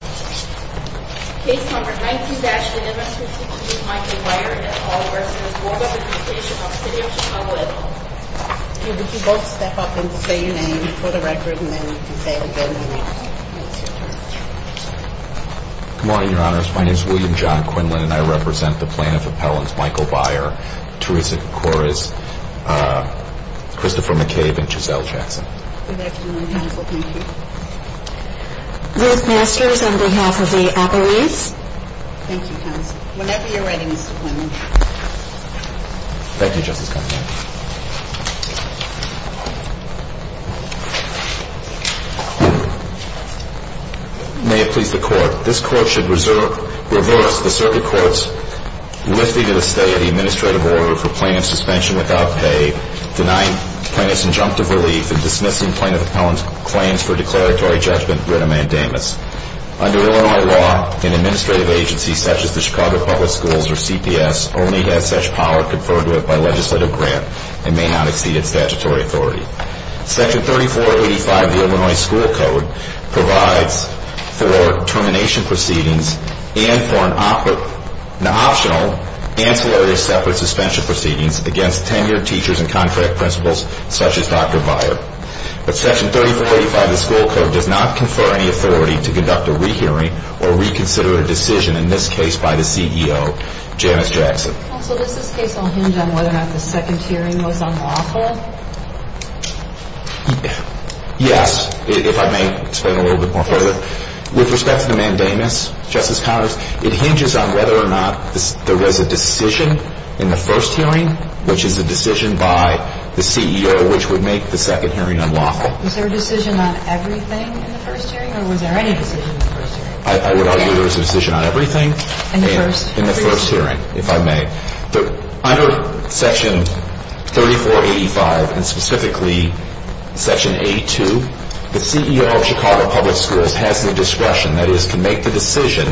Case number 19-0502, Michael Beyer v. Board of Education of the City of Chicago Would you both step up and say your name for the record and then you can say it again when it's your turn. Good morning, your honors. My name is William John Quinlan and I represent the plaintiff appellants Michael Beyer, Teresa D'Cores, Christopher McCabe, and Giselle Jackson. Good afternoon, counsel. Thank you. Both masters on behalf of the appellees. Thank you, counsel. Whenever you're ready, Mr. Quinlan. Thank you, Justice Conway. May it please the court. This court should reverse the circuit court's lifting of the stay of the administrative order for plaintiff suspension without pay, denying plaintiff's injunctive relief, and dismissing plaintiff appellant's claims for declaratory judgment writ a mandamus. Under Illinois law, an administrative agency such as the Chicago Public Schools or CPS only has such power conferred to it by legislative grant and may not exceed its statutory authority. Section 3485 of the Illinois School Code provides for termination proceedings and for an optional ancillary separate suspension proceedings against tenured teachers and contract principals such as Dr. Beyer. But Section 3485 of the school code does not confer any authority to conduct a rehearing or reconsider a decision in this case by the CEO, Janice Jackson. Counsel, does this case all hinge on whether or not the second hearing was unlawful? Yes, if I may explain a little bit more further. With respect to the mandamus, Justice Conway, it hinges on whether or not there was a decision in the first hearing which is a decision by the CEO which would make the second hearing unlawful. Was there a decision on everything in the first hearing or was there any decision in the first hearing? I would argue there was a decision on everything in the first hearing, if I may. Under Section 3485 and specifically Section 82, the CEO of Chicago Public Schools has the discretion, that is, can make the decision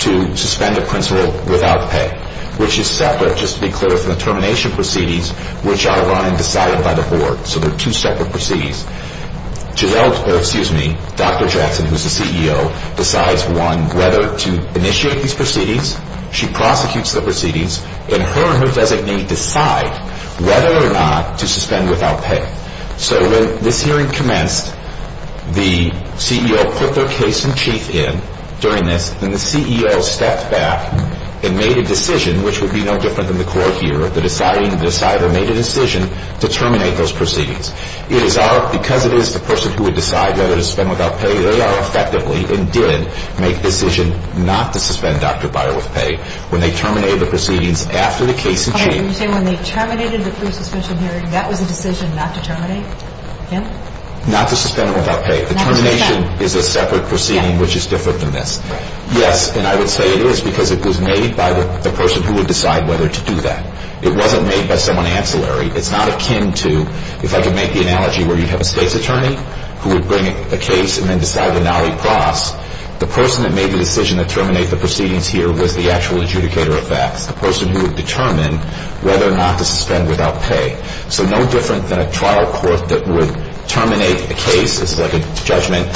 to suspend a principal without pay, which is separate, just to be clear, from the termination proceedings which are run and decided by the board. So they're two separate proceedings. Dr. Jackson, who's the CEO, decides, one, whether to initiate these proceedings. She prosecutes the proceedings. And her and her designee decide whether or not to suspend without pay. So when this hearing commenced, the CEO put their case in chief in during this. Then the CEO stepped back and made a decision which would be no different than the court here. The deciding decider made a decision to terminate those proceedings. Because it is the person who would decide whether to suspend without pay, they are effectively and did make the decision not to suspend Dr. Byer with pay when they terminated the proceedings after the case in chief. Are you saying when they terminated the pre-suspension hearing, that was a decision not to terminate? Not to suspend him without pay. The termination is a separate proceeding which is different than this. Yes, and I would say it is because it was made by the person who would decide whether to do that. It wasn't made by someone ancillary. It's not akin to, if I could make the analogy where you have a state's attorney who would bring a case and then decide to nolly-cross. The person that made the decision to terminate the proceedings here was the actual adjudicator of facts. The person who would determine whether or not to suspend without pay. So no different than a trial court that would terminate a case. It's like a judgment,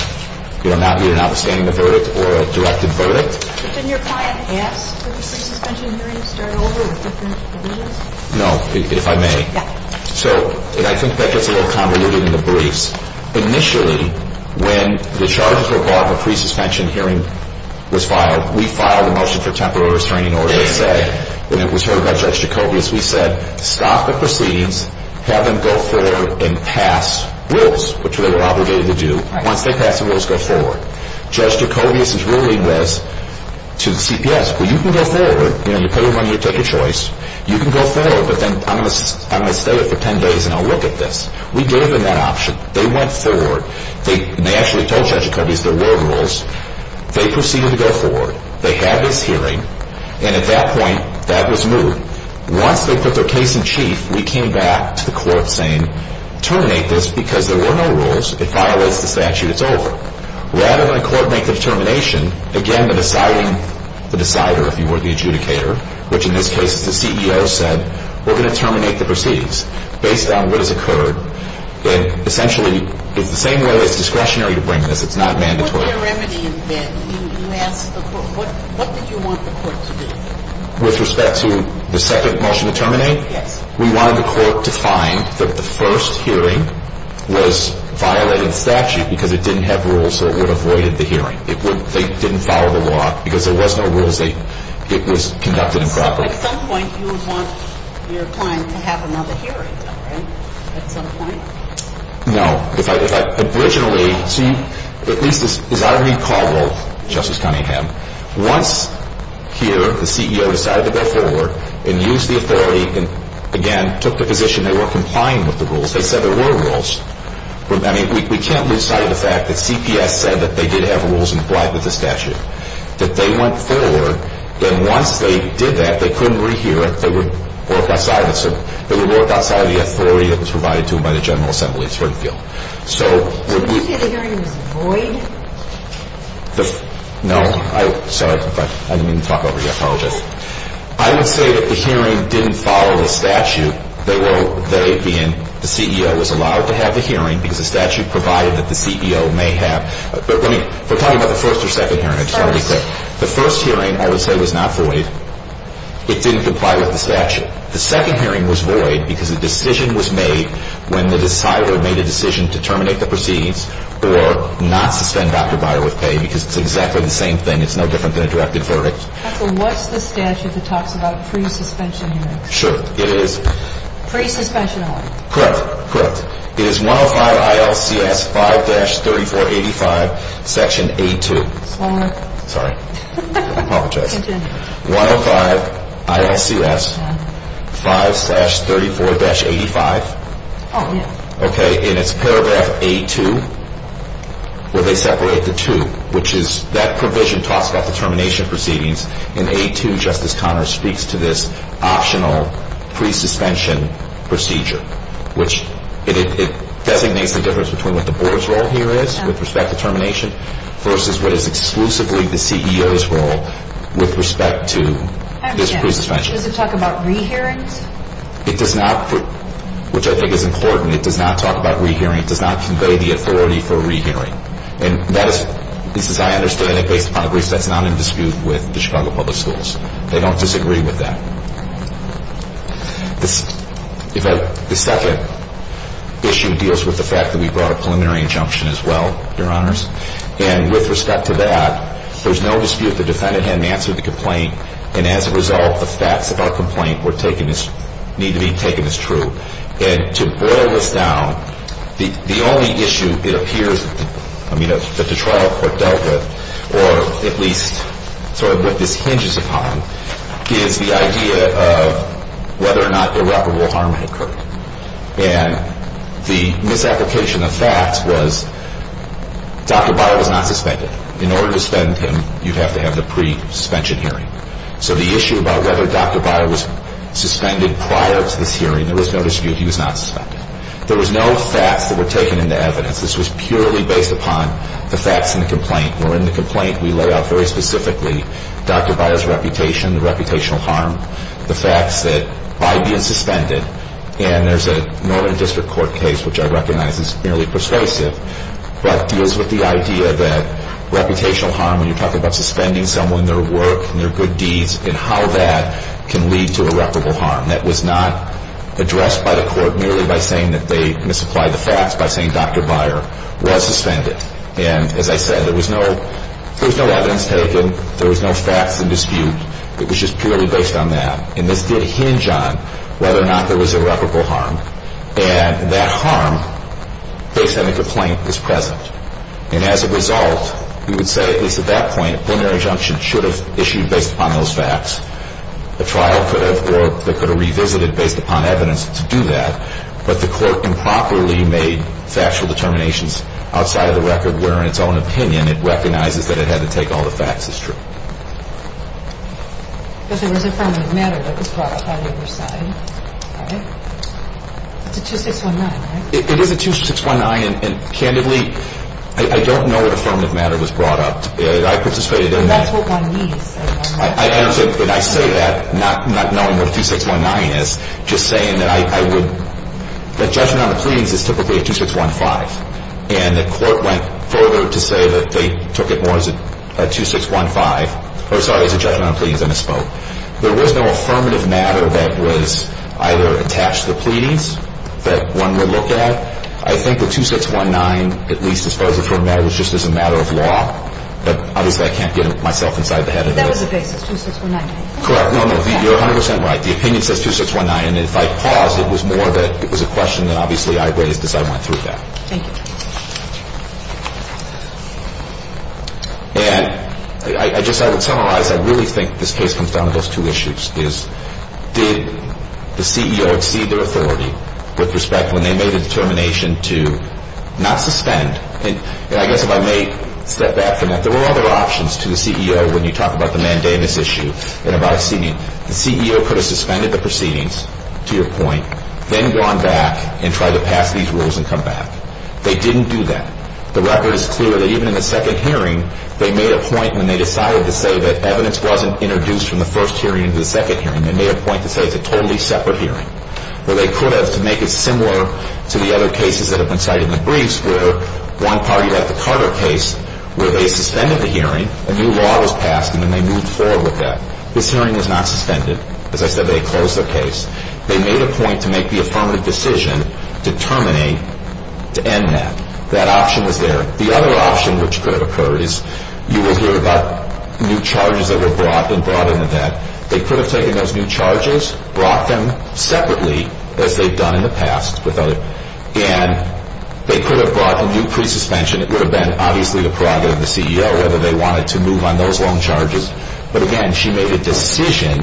you know, either notwithstanding the verdict or a directed verdict. Couldn't your client ask for the pre-suspension hearing to start over with Judge Jacobius? No, if I may. Yeah. So, and I think that gets a little convoluted in the briefs. Initially, when the charges were brought and the pre-suspension hearing was filed, we filed a motion for temporary restraining order that said, when it was heard by Judge Jacobius, we said stop the proceedings, have them go forward and pass rules, which they were obligated to do. Once they pass the rules, go forward. Judge Jacobius is ruling this to the CPS. Well, you can go forward. You know, you pay the money, you take a choice. You can go forward, but then I'm going to stay here for 10 days and I'll look at this. We gave them that option. They went forward. They actually told Judge Jacobius there were rules. They proceeded to go forward. They had this hearing, and at that point, that was moved. Once they put their case in chief, we came back to the court saying, terminate this because there were no rules. It violates the statute. It's over. Rather than a court make the determination, again, the deciding, the decider, if you will, the adjudicator, which in this case is the CEO, said, we're going to terminate the proceedings based on what has occurred. And essentially, it's the same way as discretionary to bring this. It's not mandatory. When you put your remedy in bed, you asked the court, what did you want the court to do? With respect to the second motion to terminate? Yes. We wanted the court to find that the first hearing was violating the statute because it didn't have rules so it would have voided the hearing. They didn't follow the law because there was no rules. It was conducted improperly. So at some point, you would want your client to have another hearing, right? At some point? No. Originally, at least as I recall, Justice Cunningham, once here, the CEO decided to go forward and use the authority and, again, took the position they were complying with the rules. They said there were rules. I mean, we can't lose sight of the fact that CPS said that they did have rules and complied with the statute, that they went forward, and once they did that, they couldn't rehear it. They would work outside of the authority that was provided to them by the General Assembly in Springfield. So would you say the hearing was void? No. Sorry. I didn't mean to talk over you. I apologize. I would say that the hearing didn't follow the statute. They were, they being, the CEO was allowed to have the hearing because the statute provided that the CEO may have. But let me, we're talking about the first or second hearing. I just want to be clear. The first. The first hearing, I would say, was not void. It didn't comply with the statute. The second hearing was void because a decision was made when the decider made a decision to terminate the proceedings or not suspend Dr. Byer with pay because it's exactly the same thing. It's no different than a directed verdict. Counsel, what's the statute that talks about pre-suspension hearings? Sure. It is? Pre-suspension hearings. Correct. Correct. It is 105 ILCS 5-3485, section A2. Slower. Sorry. I apologize. Continue. 105 ILCS 5-3485. Oh, yeah. Okay. And it's paragraph A2 where they separate the two, which is, that provision talks about the termination proceedings. And A2, Justice Conner, speaks to this optional pre-suspension procedure, which it designates the difference between what the board's role here is with respect to termination versus what is exclusively the CEO's role with respect to this pre-suspension. I understand. Does it talk about re-hearings? It does not, which I think is important. It does not talk about re-hearing. It does not convey the authority for re-hearing. And that is, at least as I understand it, based upon the brief, that's not in dispute with the Chicago Public Schools. They don't disagree with that. The second issue deals with the fact that we brought a preliminary injunction as well, Your Honors. And with respect to that, there's no dispute the defendant hadn't answered the complaint. And as a result, the facts of our complaint need to be taken as true. And to boil this down, the only issue it appears that the trial court dealt with, or at least sort of what this hinges upon, is the idea of whether or not irreparable harm had occurred. And the misapplication of facts was Dr. Byer was not suspended. In order to suspend him, you'd have to have the pre-suspension hearing. So the issue about whether Dr. Byer was suspended prior to this hearing, there was no dispute he was not suspended. There was no facts that were taken into evidence. This was purely based upon the facts in the complaint. Where in the complaint we lay out very specifically Dr. Byer's reputation, the reputational harm, the facts that by being suspended, and there's a Northern District Court case which I recognize is merely persuasive, but deals with the idea that reputational harm, when you're talking about suspending someone, their work and their good deeds, and how that can lead to irreparable harm. That was not addressed by the court merely by saying that they misapplied the facts, by saying Dr. Byer was suspended. And as I said, there was no evidence taken. There was no facts in dispute. It was just purely based on that. And this did hinge on whether or not there was irreparable harm. And that harm, based on the complaint, is present. And as a result, you would say at least at that point, a plenary injunction should have issued based upon those facts. A trial could have or could have revisited based upon evidence to do that. But the court improperly made factual determinations outside of the record where in its own opinion it recognizes that it had to take all the facts as true. But there was affirmative matter that was brought up on your side, right? It's a 2619, right? It is a 2619. And candidly, I don't know what affirmative matter was brought up. I participated in that. That's what one needs. And I say that not knowing what a 2619 is, just saying that I would – that judgment on the pleadings is typically a 2615. And the court went further to say that they took it more as a 2615 – or sorry, as a judgment on the pleadings and a spoke. There was no affirmative matter that was either attached to the pleadings that one would look at. I think the 2619, at least as far as it's from that, was just as a matter of law. But obviously, I can't get myself inside the head of this. That was the basis, 2619. Correct. No, no, you're 100 percent right. The opinion says 2619. And if I paused, it was more that it was a question that obviously I raised as I went through that. Thank you. And I just – I would summarize. I really think this case comes down to those two issues, is did the CEO exceed their authority with respect when they made a determination to not suspend? And I guess if I may step back from that, there were other options to the CEO when you talk about the mandamus issue and about exceeding. The CEO could have suspended the proceedings, to your point, then gone back and tried to pass these rules and come back. They didn't do that. The record is clear that even in the second hearing, they made a point when they decided to say that evidence wasn't introduced from the first hearing into the second hearing. They made a point to say it's a totally separate hearing. Where they could have, to make it similar to the other cases that have been cited in the briefs, where one party had the Carter case where they suspended the hearing, a new law was passed, and then they moved forward with that. This hearing was not suspended. As I said, they closed their case. They made a point to make the affirmative decision to terminate, to end that. That option was there. The other option which could have occurred is you will hear about new charges that were brought and brought into that. They could have taken those new charges, brought them separately, as they've done in the past with other – and they could have brought a new pre-suspension. It would have been obviously the prerogative of the CEO whether they wanted to move on those loan charges. But again, she made a decision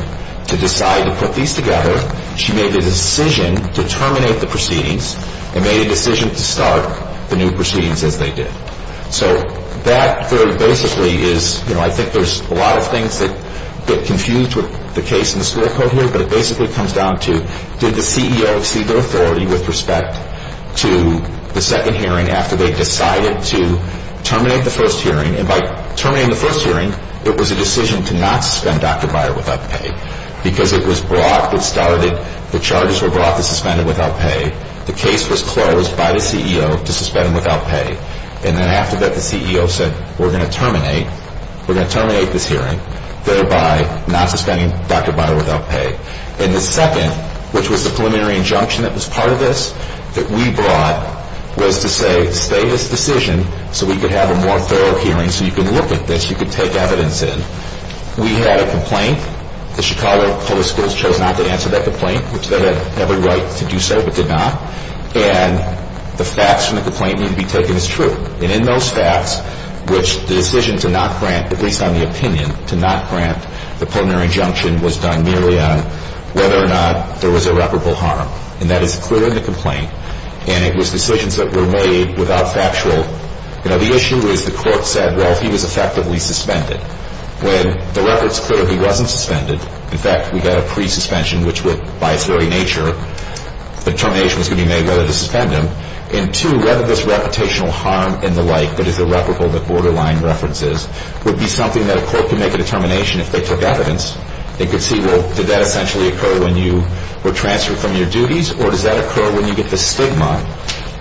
to decide to put these together. She made a decision to terminate the proceedings and made a decision to start the new proceedings as they did. So that very basically is – I think there's a lot of things that get confused with the case in the score code here, but it basically comes down to did the CEO exceed their authority with respect to the second hearing after they decided to terminate the first hearing? And by terminating the first hearing, it was a decision to not suspend Dr. Byer without pay because it was brought, it started, the charges were brought to suspend him without pay. The case was closed by the CEO to suspend him without pay. And then after that, the CEO said, we're going to terminate. We're going to terminate this hearing, thereby not suspending Dr. Byer without pay. And the second, which was the preliminary injunction that was part of this, that we brought, was to say, stay this decision so we could have a more thorough hearing so you could look at this, you could take evidence in. We had a complaint. The Chicago Public Schools chose not to answer that complaint, which they had every right to do so, but did not. And the facts from the complaint need to be taken as true. And in those facts, which the decision to not grant, at least on the opinion, to not grant the preliminary injunction was done merely on whether or not there was irreparable harm. And that is clear in the complaint. And it was decisions that were made without factual. You know, the issue is the court said, well, he was effectively suspended. When the record's clear, he wasn't suspended. In fact, we got a pre-suspension, which would, by its very nature, determination was going to be made whether to suspend him. And two, whether this reputational harm and the like that is irreparable that Borderline references would be something that a court could make a determination if they took evidence. They could see, well, did that essentially occur when you were transferred from your duties? Or does that occur when you get the stigma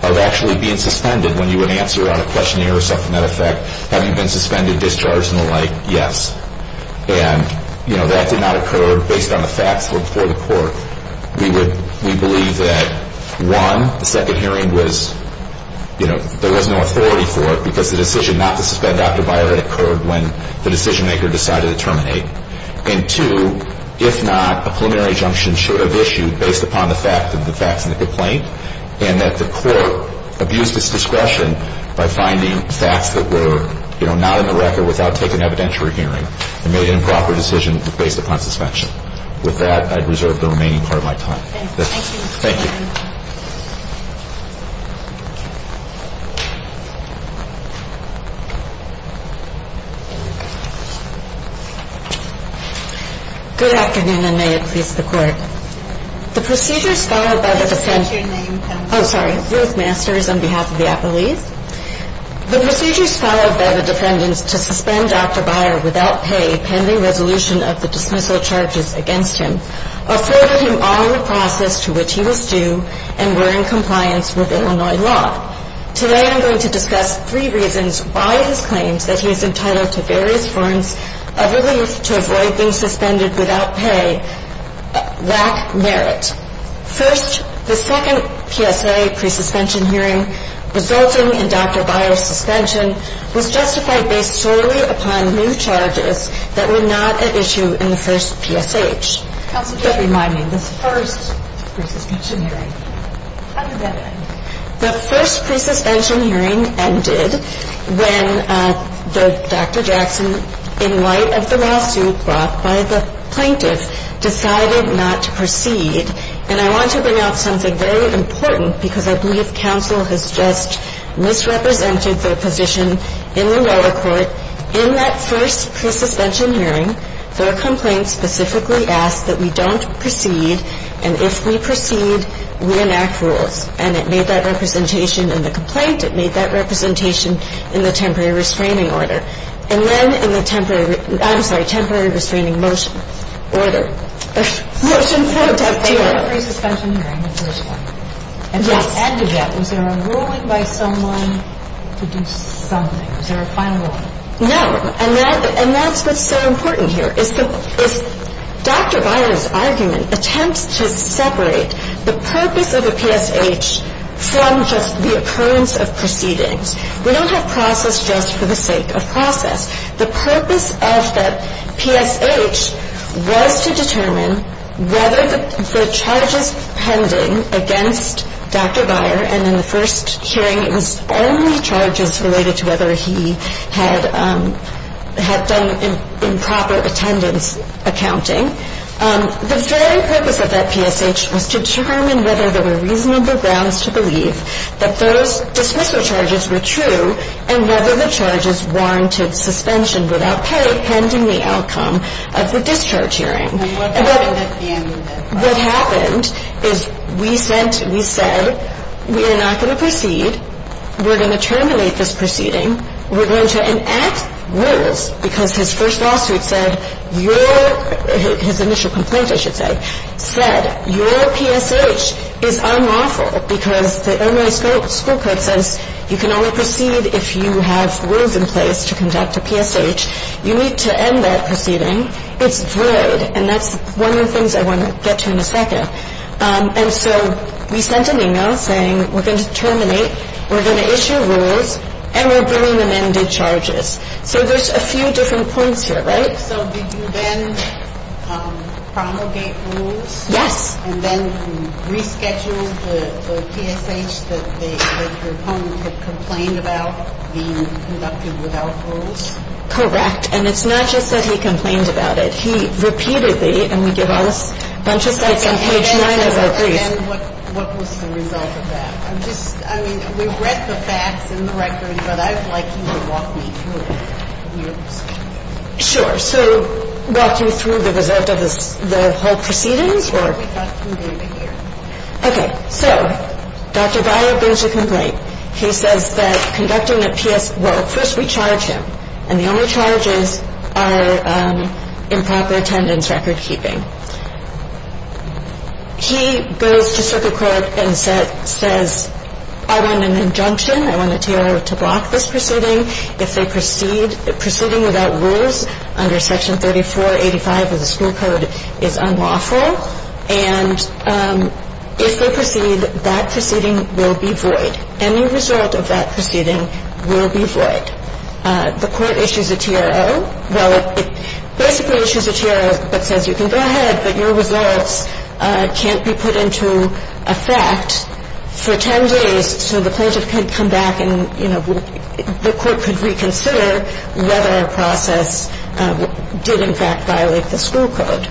of actually being suspended, when you would answer on a questionnaire or something? As a matter of fact, have you been suspended, discharged, and the like? Yes. And, you know, that did not occur based on the facts before the court. We believe that, one, the second hearing was, you know, there was no authority for it because the decision not to suspend Dr. Byer had occurred when the decision maker decided to terminate. And two, if not, a preliminary injunction should have issued based upon the facts and the complaint and that the court abused its discretion by finding facts that were, you know, not in the record without taking evidence for a hearing and made an improper decision based upon suspension. With that, I'd reserve the remaining part of my time. Thank you. Thank you. Good afternoon, and may it please the court. The procedures followed by the defendants… What's your name? Oh, sorry. Ruth Masters on behalf of the Apple East. The procedures followed by the defendants to suspend Dr. Byer without pay, pending resolution of the dismissal charges against him, afforded him all the process to which he was due and were in compliance with Illinois law. Today, I'm going to discuss three reasons why it is claimed that he is entitled to various forms of relief to avoid being suspended without pay lack merit. First, the second PSA pre-suspension hearing resulting in Dr. Byer's suspension was justified based solely upon new charges that were not at issue in the first PSH. Counsel, just remind me, the first pre-suspension hearing, how did that end? The first pre-suspension hearing ended when Dr. Jackson, in light of the lawsuit brought by the plaintiff, decided not to proceed. And I want to bring out something very important, because I believe counsel has just misrepresented their position in the lower court. In that first pre-suspension hearing, their complaint specifically asked that we don't proceed, and if we proceed, reenact rules. And it made that representation in the complaint, it made that representation in the temporary restraining order. And then in the temporary ‑‑ I'm sorry, temporary restraining motion order. Motion for ‑‑ They had a pre-suspension hearing in the first one. Yes. And to add to that, was there a ruling by someone to do something? Was there a final ruling? No. And that's what's so important here. Dr. Beyer's argument attempts to separate the purpose of a PSH from just the occurrence of proceedings. We don't have process just for the sake of process. The purpose of the PSH was to determine whether the charges pending against Dr. Beyer, and in the first hearing it was only charges related to whether he had done improper attendance accounting. The very purpose of that PSH was to determine whether there were reasonable grounds to believe that those dismissal charges were true and whether the charges warranted suspension without pay pending the outcome of the discharge hearing. And what happened at the end? We are not going to proceed. We're going to terminate this proceeding. We're going to enact rules because his first lawsuit said your ‑‑ his initial complaint, I should say, said your PSH is unlawful because the Illinois school code says you can only proceed if you have rules in place to conduct a PSH. You need to end that proceeding. It's void. And that's one of the things I want to get to in a second. And so we sent an email saying we're going to terminate, we're going to issue rules, and we're bringing amended charges. So there's a few different points here, right? So did you then promulgate rules? Yes. And then reschedule the PSH that your opponent had complained about being conducted without rules? Correct. And it's not just that he complained about it. He repeatedly, and we give all this, a bunch of sites on page 9 of our briefs. And what was the result of that? I'm just, I mean, we've read the facts and the records, but I'd like you to walk me through your decision. Sure. So walk you through the result of the whole proceedings or? We've got some data here. Okay. So Dr. Dyer brings a complaint. He says that conducting a PSH, well, first we charge him. And the only charges are improper attendance recordkeeping. He goes to circuit court and says, I want an injunction. I want the T.O. to block this proceeding. If they proceed, proceeding without rules under Section 3485 of the school code is unlawful. And if they proceed, that proceeding will be void. Any result of that proceeding will be void. The court issues a T.R.O. Well, it basically issues a T.R.O. that says you can go ahead, but your results can't be put into effect for 10 days so the plaintiff can come back and, you know, the court could reconsider whether a process did in fact violate the school code.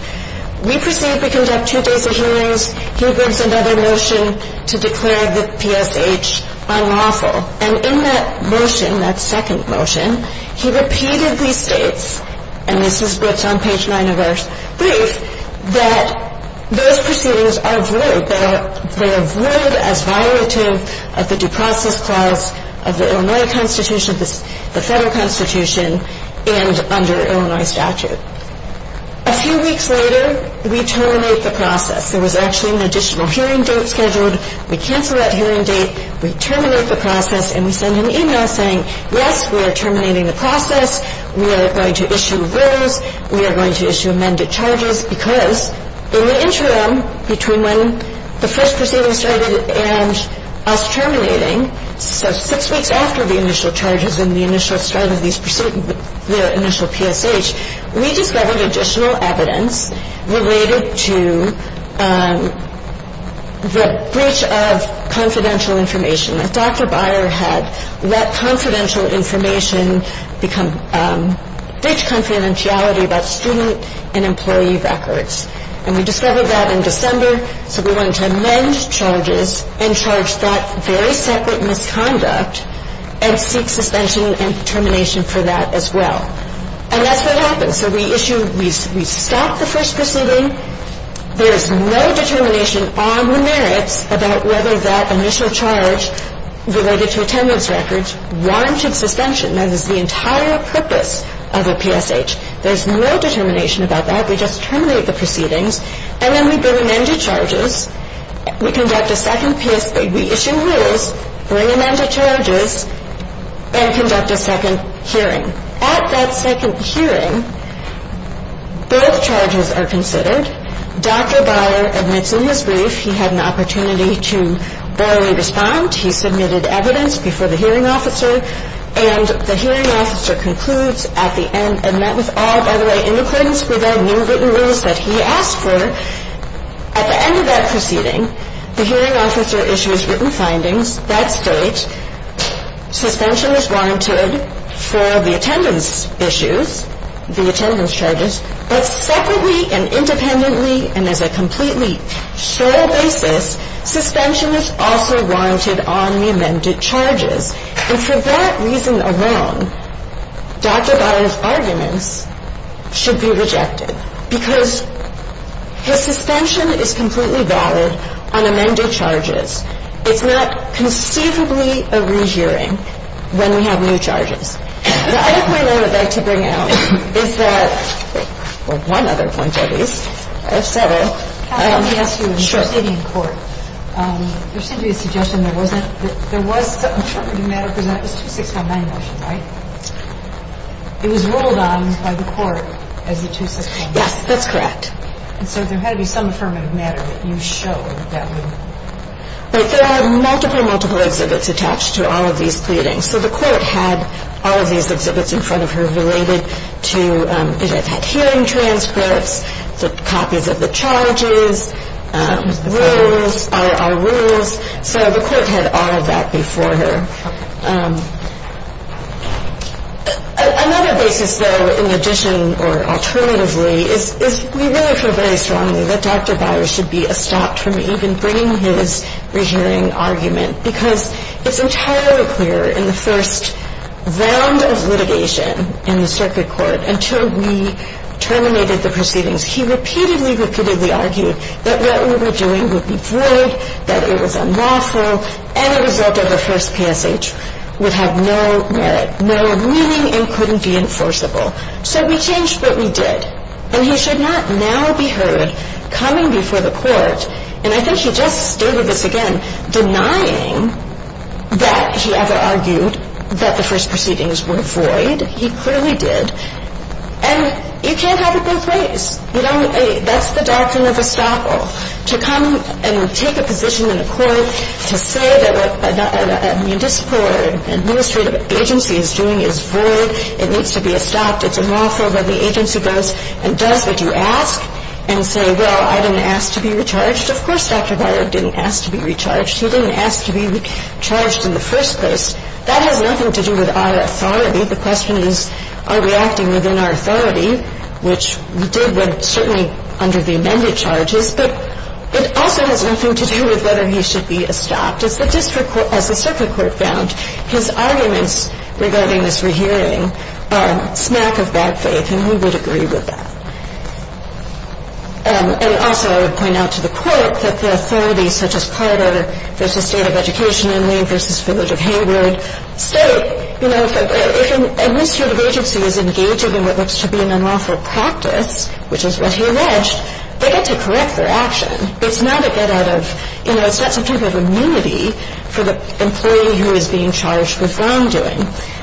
We proceed to conduct two days of hearings. He brings another motion to declare the PSH unlawful. And in that motion, that second motion, he repeatedly states, and this is what's on page 9 of our brief, that those proceedings are void. They are void as violative of the due process clause of the Illinois Constitution, the federal Constitution, and under Illinois statute. A few weeks later, we terminate the process. There was actually an additional hearing date scheduled. We cancel that hearing date. We terminate the process. And we send an e-mail saying, yes, we are terminating the process. We are going to issue rules. We are going to issue amended charges. Because in the interim, between when the first proceeding started and us terminating, so six weeks after the initial charges and the initial start of these proceedings, their initial PSH, we discovered additional evidence related to the breach of confidential information. Dr. Byer had let confidential information become breach confidentiality about student and employee records. And we discovered that in December, so we wanted to amend charges and charge that very separate misconduct and seek suspension and termination for that as well. And that's what happens. So we issue, we stop the first proceeding. There is no determination on the merits about whether that initial charge related to attendance records warranted suspension. That is the entire purpose of a PSH. There is no determination about that. We just terminate the proceedings. And then we bring amended charges. We conduct a second PSH. We issue rules, bring amended charges, and conduct a second hearing. At that second hearing, both charges are considered. Dr. Byer admits in his brief he had an opportunity to barely respond. He submitted evidence before the hearing officer. And the hearing officer concludes at the end, and that was all, by the way, in accordance with our new written rules that he asked for. At the end of that proceeding, the hearing officer issues written findings that state suspension is warranted for the attendance issues, the attendance charges, but separately and independently and as a completely sole basis, suspension is also warranted on the amended charges. And for that reason alone, Dr. Byer's arguments should be rejected because the suspension is completely valid on amended charges. It's not conceivably a re-hearing when we have new charges. The other point I would like to bring out is that one other point, at least. I have seven. Sure. There seemed to be a suggestion there wasn't. There was some affirmative matter presented. It was a 2619 motion, right? It was rolled on by the court as the 2619 motion. Yes, that's correct. And so there had to be some affirmative matter that you showed that would. Right. There are multiple, multiple exhibits attached to all of these pleadings. So the court had all of these exhibits in front of her related to hearing transcripts, copies of the charges, rules, our rules. So the court had all of that before her. Okay. Another basis, though, in addition or alternatively is we really feel very strongly that Dr. Byer should be stopped from even bringing his re-hearing argument because it's entirely clear in the first round of litigation in the circuit court until we terminated the proceedings, he repeatedly, repeatedly argued that what we were doing would be void, that it was unlawful, and the result of the first passage would have no merit, no meaning, and couldn't be enforceable. So we changed what we did. And he should not now be heard coming before the court. And I think he just stated this again, denying that he ever argued that the first proceedings were void. He clearly did. And you can't have it both ways. That's the doctrine of estoppel, to come and take a position in the court to say that what a municipal or administrative agency is doing is void, it needs to be stopped, it's unlawful, and the agency goes and does what you ask and say, well, I didn't ask to be recharged. Of course Dr. Byer didn't ask to be recharged. He didn't ask to be recharged in the first place. That has nothing to do with our authority. The question is are we acting within our authority, which we did when certainly under the amended charges, but it also has nothing to do with whether he should be estopped. And I think it's important to note, as the circuit court found, his arguments regarding this rehearing are smack of bad faith, and we would agree with that. And also I would point out to the court that the authorities such as Carter v. State of Education and Lane v. Village of Hayward state, you know, if an administrative agency is engaged in what looks to be an unlawful practice, which is what he alleged, they get to correct their action. It's not a get out of, you know, it's not some type of immunity for the employee who is being charged with wrongdoing.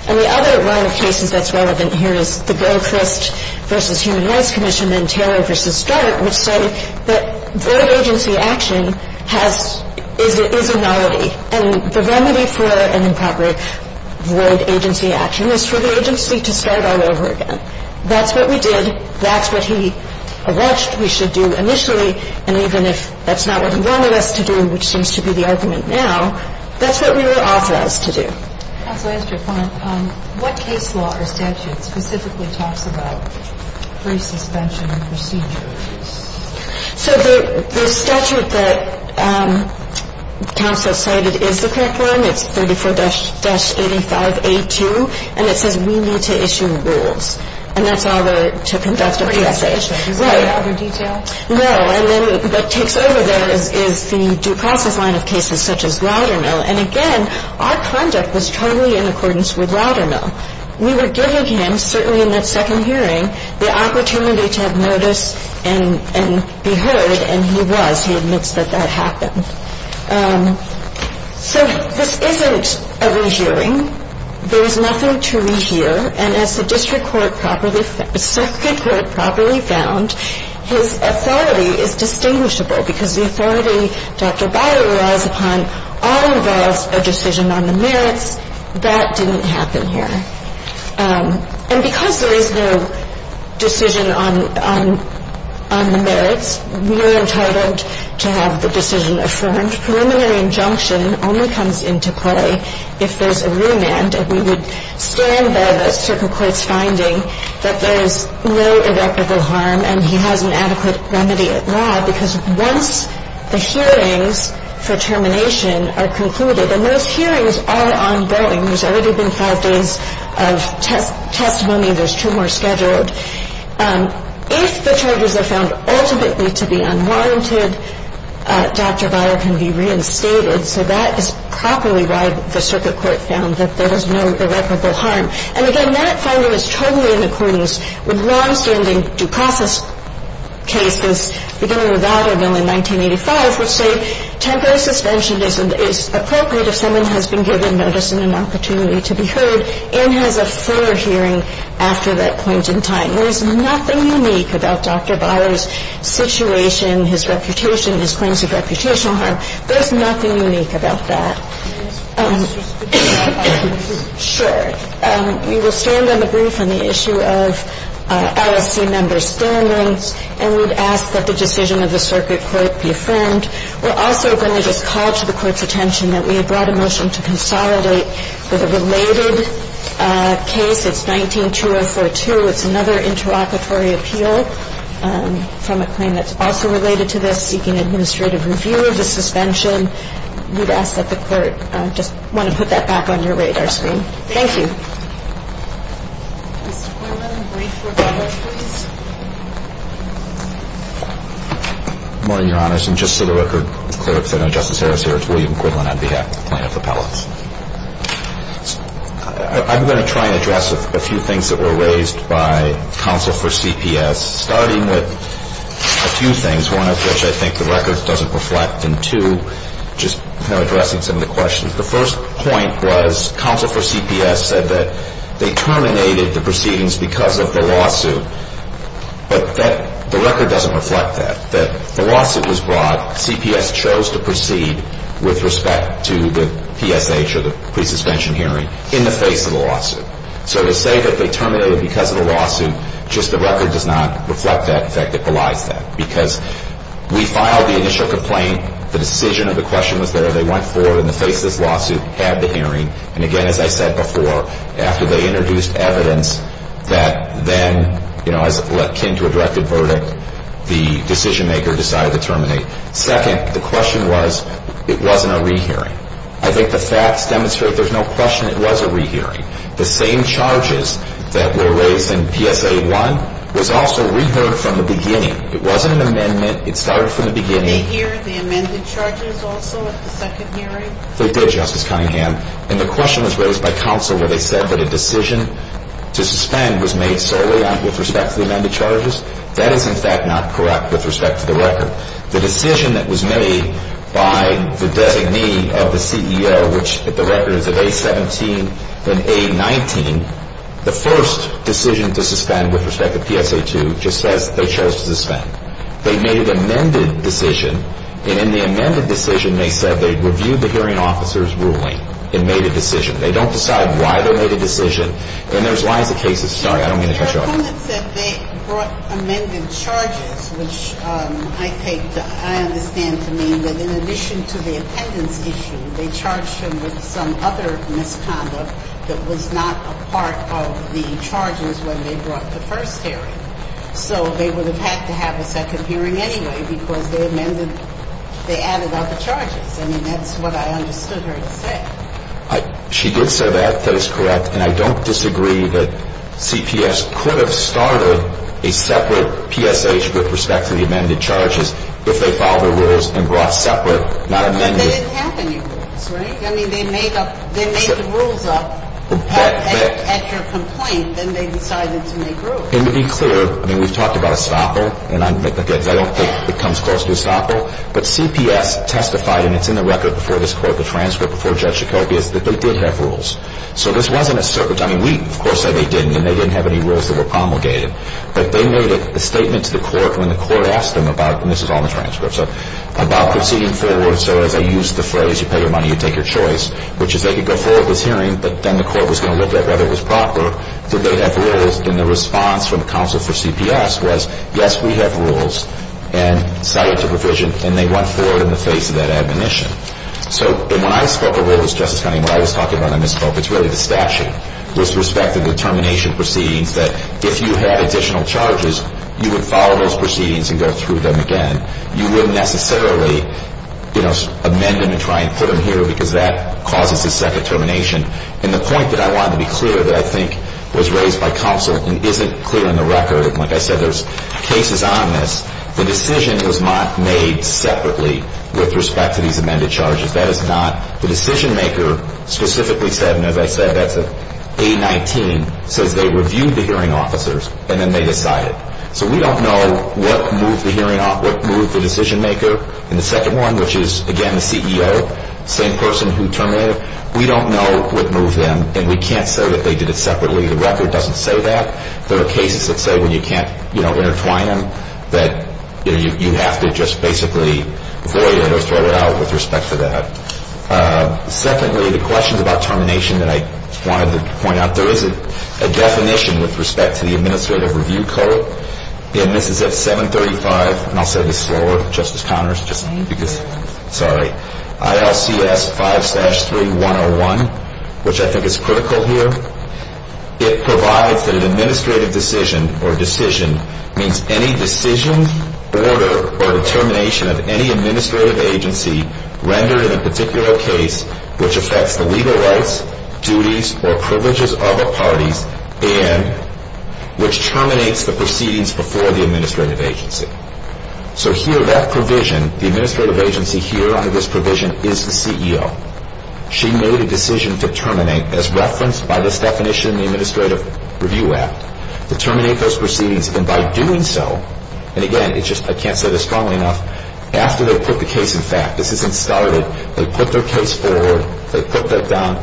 And the other line of cases that's relevant here is the Gilchrist v. Human Rights Commission and Taylor v. Start, which say that void agency action has, is a nullity. And the remedy for an improper void agency action is for the agency to start all over again. That's what we did. That's what he alleged we should do initially. And even if that's not what he wanted us to do, which seems to be the argument now, that's what we were authorized to do. Counsel, I asked you a point. What case law or statute specifically talks about free suspension and procedure? So the statute that counsel cited is the correct one. It's 34-85A2. And it says we need to issue rules. And that's all the, to conduct a PSA. Is there any other detail? No. And then what takes over there is the due process line of cases such as Loudermill. And, again, our conduct was totally in accordance with Loudermill. We were giving him, certainly in that second hearing, the opportunity to have notice and be heard. And he was. He admits that that happened. So this isn't a rehearing. There is nothing to rehear. And as the district court properly, circuit court properly found, his authority is distinguishable because the authority Dr. Byer relies upon all involves a decision on the merits. That didn't happen here. And because there is no decision on the merits, we were entitled to have the decision affirmed. And the preliminary injunction only comes into play if there's a remand. And we would stand by the circuit court's finding that there is no irreparable harm and he has an adequate remedy at law because once the hearings for termination are concluded, and those hearings are ongoing, there's already been five days of testimony. There's two more scheduled. If the charges are found ultimately to be unwarranted, Dr. Byer can be reinstated. So that is properly why the circuit court found that there was no irreparable harm. And, again, that finding is totally in accordance with longstanding due process cases, beginning with Loudermill in 1985, which say temporary suspension is appropriate if someone has been given notice and an opportunity to be heard and has a fuller hearing after that point in time. There's nothing unique about Dr. Byer's situation, his reputation, his claims of reputational harm. There's nothing unique about that. Can I ask a question? Sure. We will stand on the brief on the issue of LSC members' standings, and we'd ask that the decision of the circuit court be affirmed. We're also going to just call to the court's attention that we have brought a motion to consolidate with a related case. It's 19-2042. It's another interlocutory appeal from a claim that's also related to this, seeking administrative review of the suspension. We'd ask that the court just want to put that back on your radar screen. Thank you. Mr. Quiglin, brief rebuttal, please. Good morning, Your Honors, and just so the record is clear, I know Justice Harris here. It's William Quiglin on behalf of the plaintiff appellants. I'm going to try and address a few things that were raised by counsel for CPS, starting with a few things, one of which I think the record doesn't reflect, and two, just kind of addressing some of the questions. The first point was counsel for CPS said that they terminated the proceedings because of the lawsuit, but the record doesn't reflect that, that the lawsuit was brought. CPS chose to proceed with respect to the PSH or the pre-suspension hearing in the face of the lawsuit. So to say that they terminated because of the lawsuit, just the record does not reflect that, in fact, it belies that, because we filed the initial complaint. The decision of the question was there. They went forward in the face of this lawsuit, had the hearing, and again, as I said before, after they introduced evidence that then, you know, the decision-maker decided to terminate. Second, the question was it wasn't a rehearing. I think the facts demonstrate there's no question it was a rehearing. The same charges that were raised in PSA 1 was also reheard from the beginning. It wasn't an amendment. It started from the beginning. Did they hear the amended charges also at the second hearing? They did, Justice Cunningham. And the question was raised by counsel where they said that a decision to suspend was made solely with respect to the amended charges. That is, in fact, not correct with respect to the record. The decision that was made by the designee of the CEO, which the record is of A17 and A19, the first decision to suspend with respect to PSA 2 just says they chose to suspend. They made an amended decision, and in the amended decision, they said they reviewed the hearing officer's ruling and made a decision. They don't decide why they made a decision, and there's lies of cases. Sorry, I don't mean to cut you off. Your comment said they brought amended charges, which I take to, I understand to mean that in addition to the attendance issue, they charged him with some other misconduct that was not a part of the charges when they brought the first hearing. So they would have had to have a second hearing anyway because they amended, they added other charges. I mean, that's what I understood her to say. She did say that. That is correct. And I don't disagree that CPS could have started a separate PSH with respect to the amended charges if they filed the rules and brought separate, not amended. But they didn't have any rules, right? I mean, they made up, they made the rules up at your complaint, then they decided to make rules. And to be clear, I mean, we've talked about estoppel, and I don't think it comes close to estoppel. But CPS testified, and it's in the record before this Court, the transcript before Judge Jacobi, is that they did have rules. So this wasn't a circuit. I mean, we, of course, said they didn't, and they didn't have any rules that were promulgated. But they made a statement to the Court when the Court asked them about, and this is all in the transcript, so, about proceeding forward. So as I used the phrase, you pay your money, you take your choice, which is they could go forward with this hearing, but then the Court was going to look at whether it was proper. Did they have rules? And the response from the counsel for CPS was, yes, we have rules. And cited to provision, and they went forward in the face of that admonition. So when I spoke of all this, Justice Kennedy, and what I was talking about when I misspoke, it's really the statute. With respect to the termination proceedings, that if you had additional charges, you would follow those proceedings and go through them again. You wouldn't necessarily, you know, amend them and try and put them here because that causes a second termination. And the point that I wanted to be clear that I think was raised by counsel and isn't clear in the record, and like I said, there's cases on this, the decision was not made separately with respect to these amended charges. That is not the decision-maker specifically said, and as I said, that's an A-19, says they reviewed the hearing officers and then they decided. So we don't know what moved the decision-maker in the second one, which is, again, the CEO, same person who terminated. We don't know what moved them, and we can't say that they did it separately. The record doesn't say that. There are cases that say when you can't, you know, intertwine them, that you have to just basically void it or throw it out with respect to that. Secondly, the questions about termination that I wanted to point out, there is a definition with respect to the Administrative Review Code, and this is at 735, and I'll say this slower, Justice Connors, just because, sorry, ILCS 5-3-101, which I think is critical here. It provides that an administrative decision or decision means any decision, order, or determination of any administrative agency rendered in a particular case which affects the legal rights, duties, or privileges of a party and which terminates the proceedings before the administrative agency. So here, that provision, the administrative agency here under this provision is the CEO. She made a decision to terminate, as referenced by this definition in the Administrative Review Act, to terminate those proceedings. And by doing so, and again, it's just I can't say this strongly enough, after they put the case in fact, this isn't started, they put their case forward, they put that down,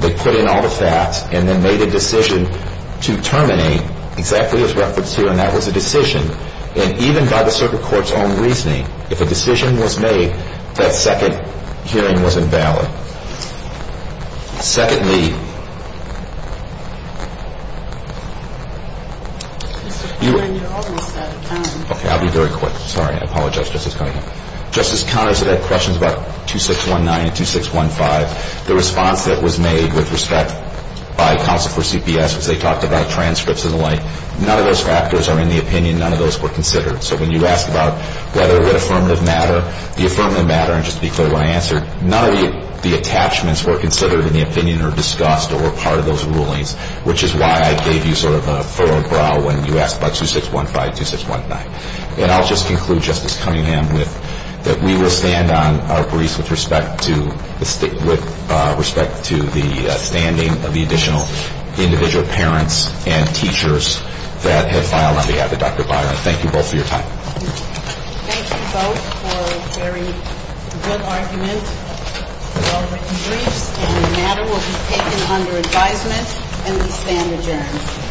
they put in all the facts, and then made a decision to terminate exactly as referenced here, and that was a decision. And even by the Circuit Court's own reasoning, if a decision was made, that second hearing wasn't valid. Secondly, okay, I'll be very quick. Sorry, I apologize, Justice Conner. Justice Conner said that questions about 2619 and 2615, the response that was made with respect by counsel for CPS as they talked about transcripts and the like, none of those factors are in the opinion, none of those were considered. So when you ask about whether that affirmative matter, the affirmative matter, and just to be clear when I answer, none of the attachments were considered in the opinion or discussed or were part of those rulings, which is why I gave you sort of a furrowed brow when you asked about 2615, 2619. And I'll just conclude, Justice Cunningham, that we will stand on our briefs with respect to the standing of the additional individual parents and teachers that have filed on behalf of Dr. Byron. Thank you both for your time. Thank you both for a very good argument, well-written briefs, and the matter will be taken under advisement, and we stand adjourned.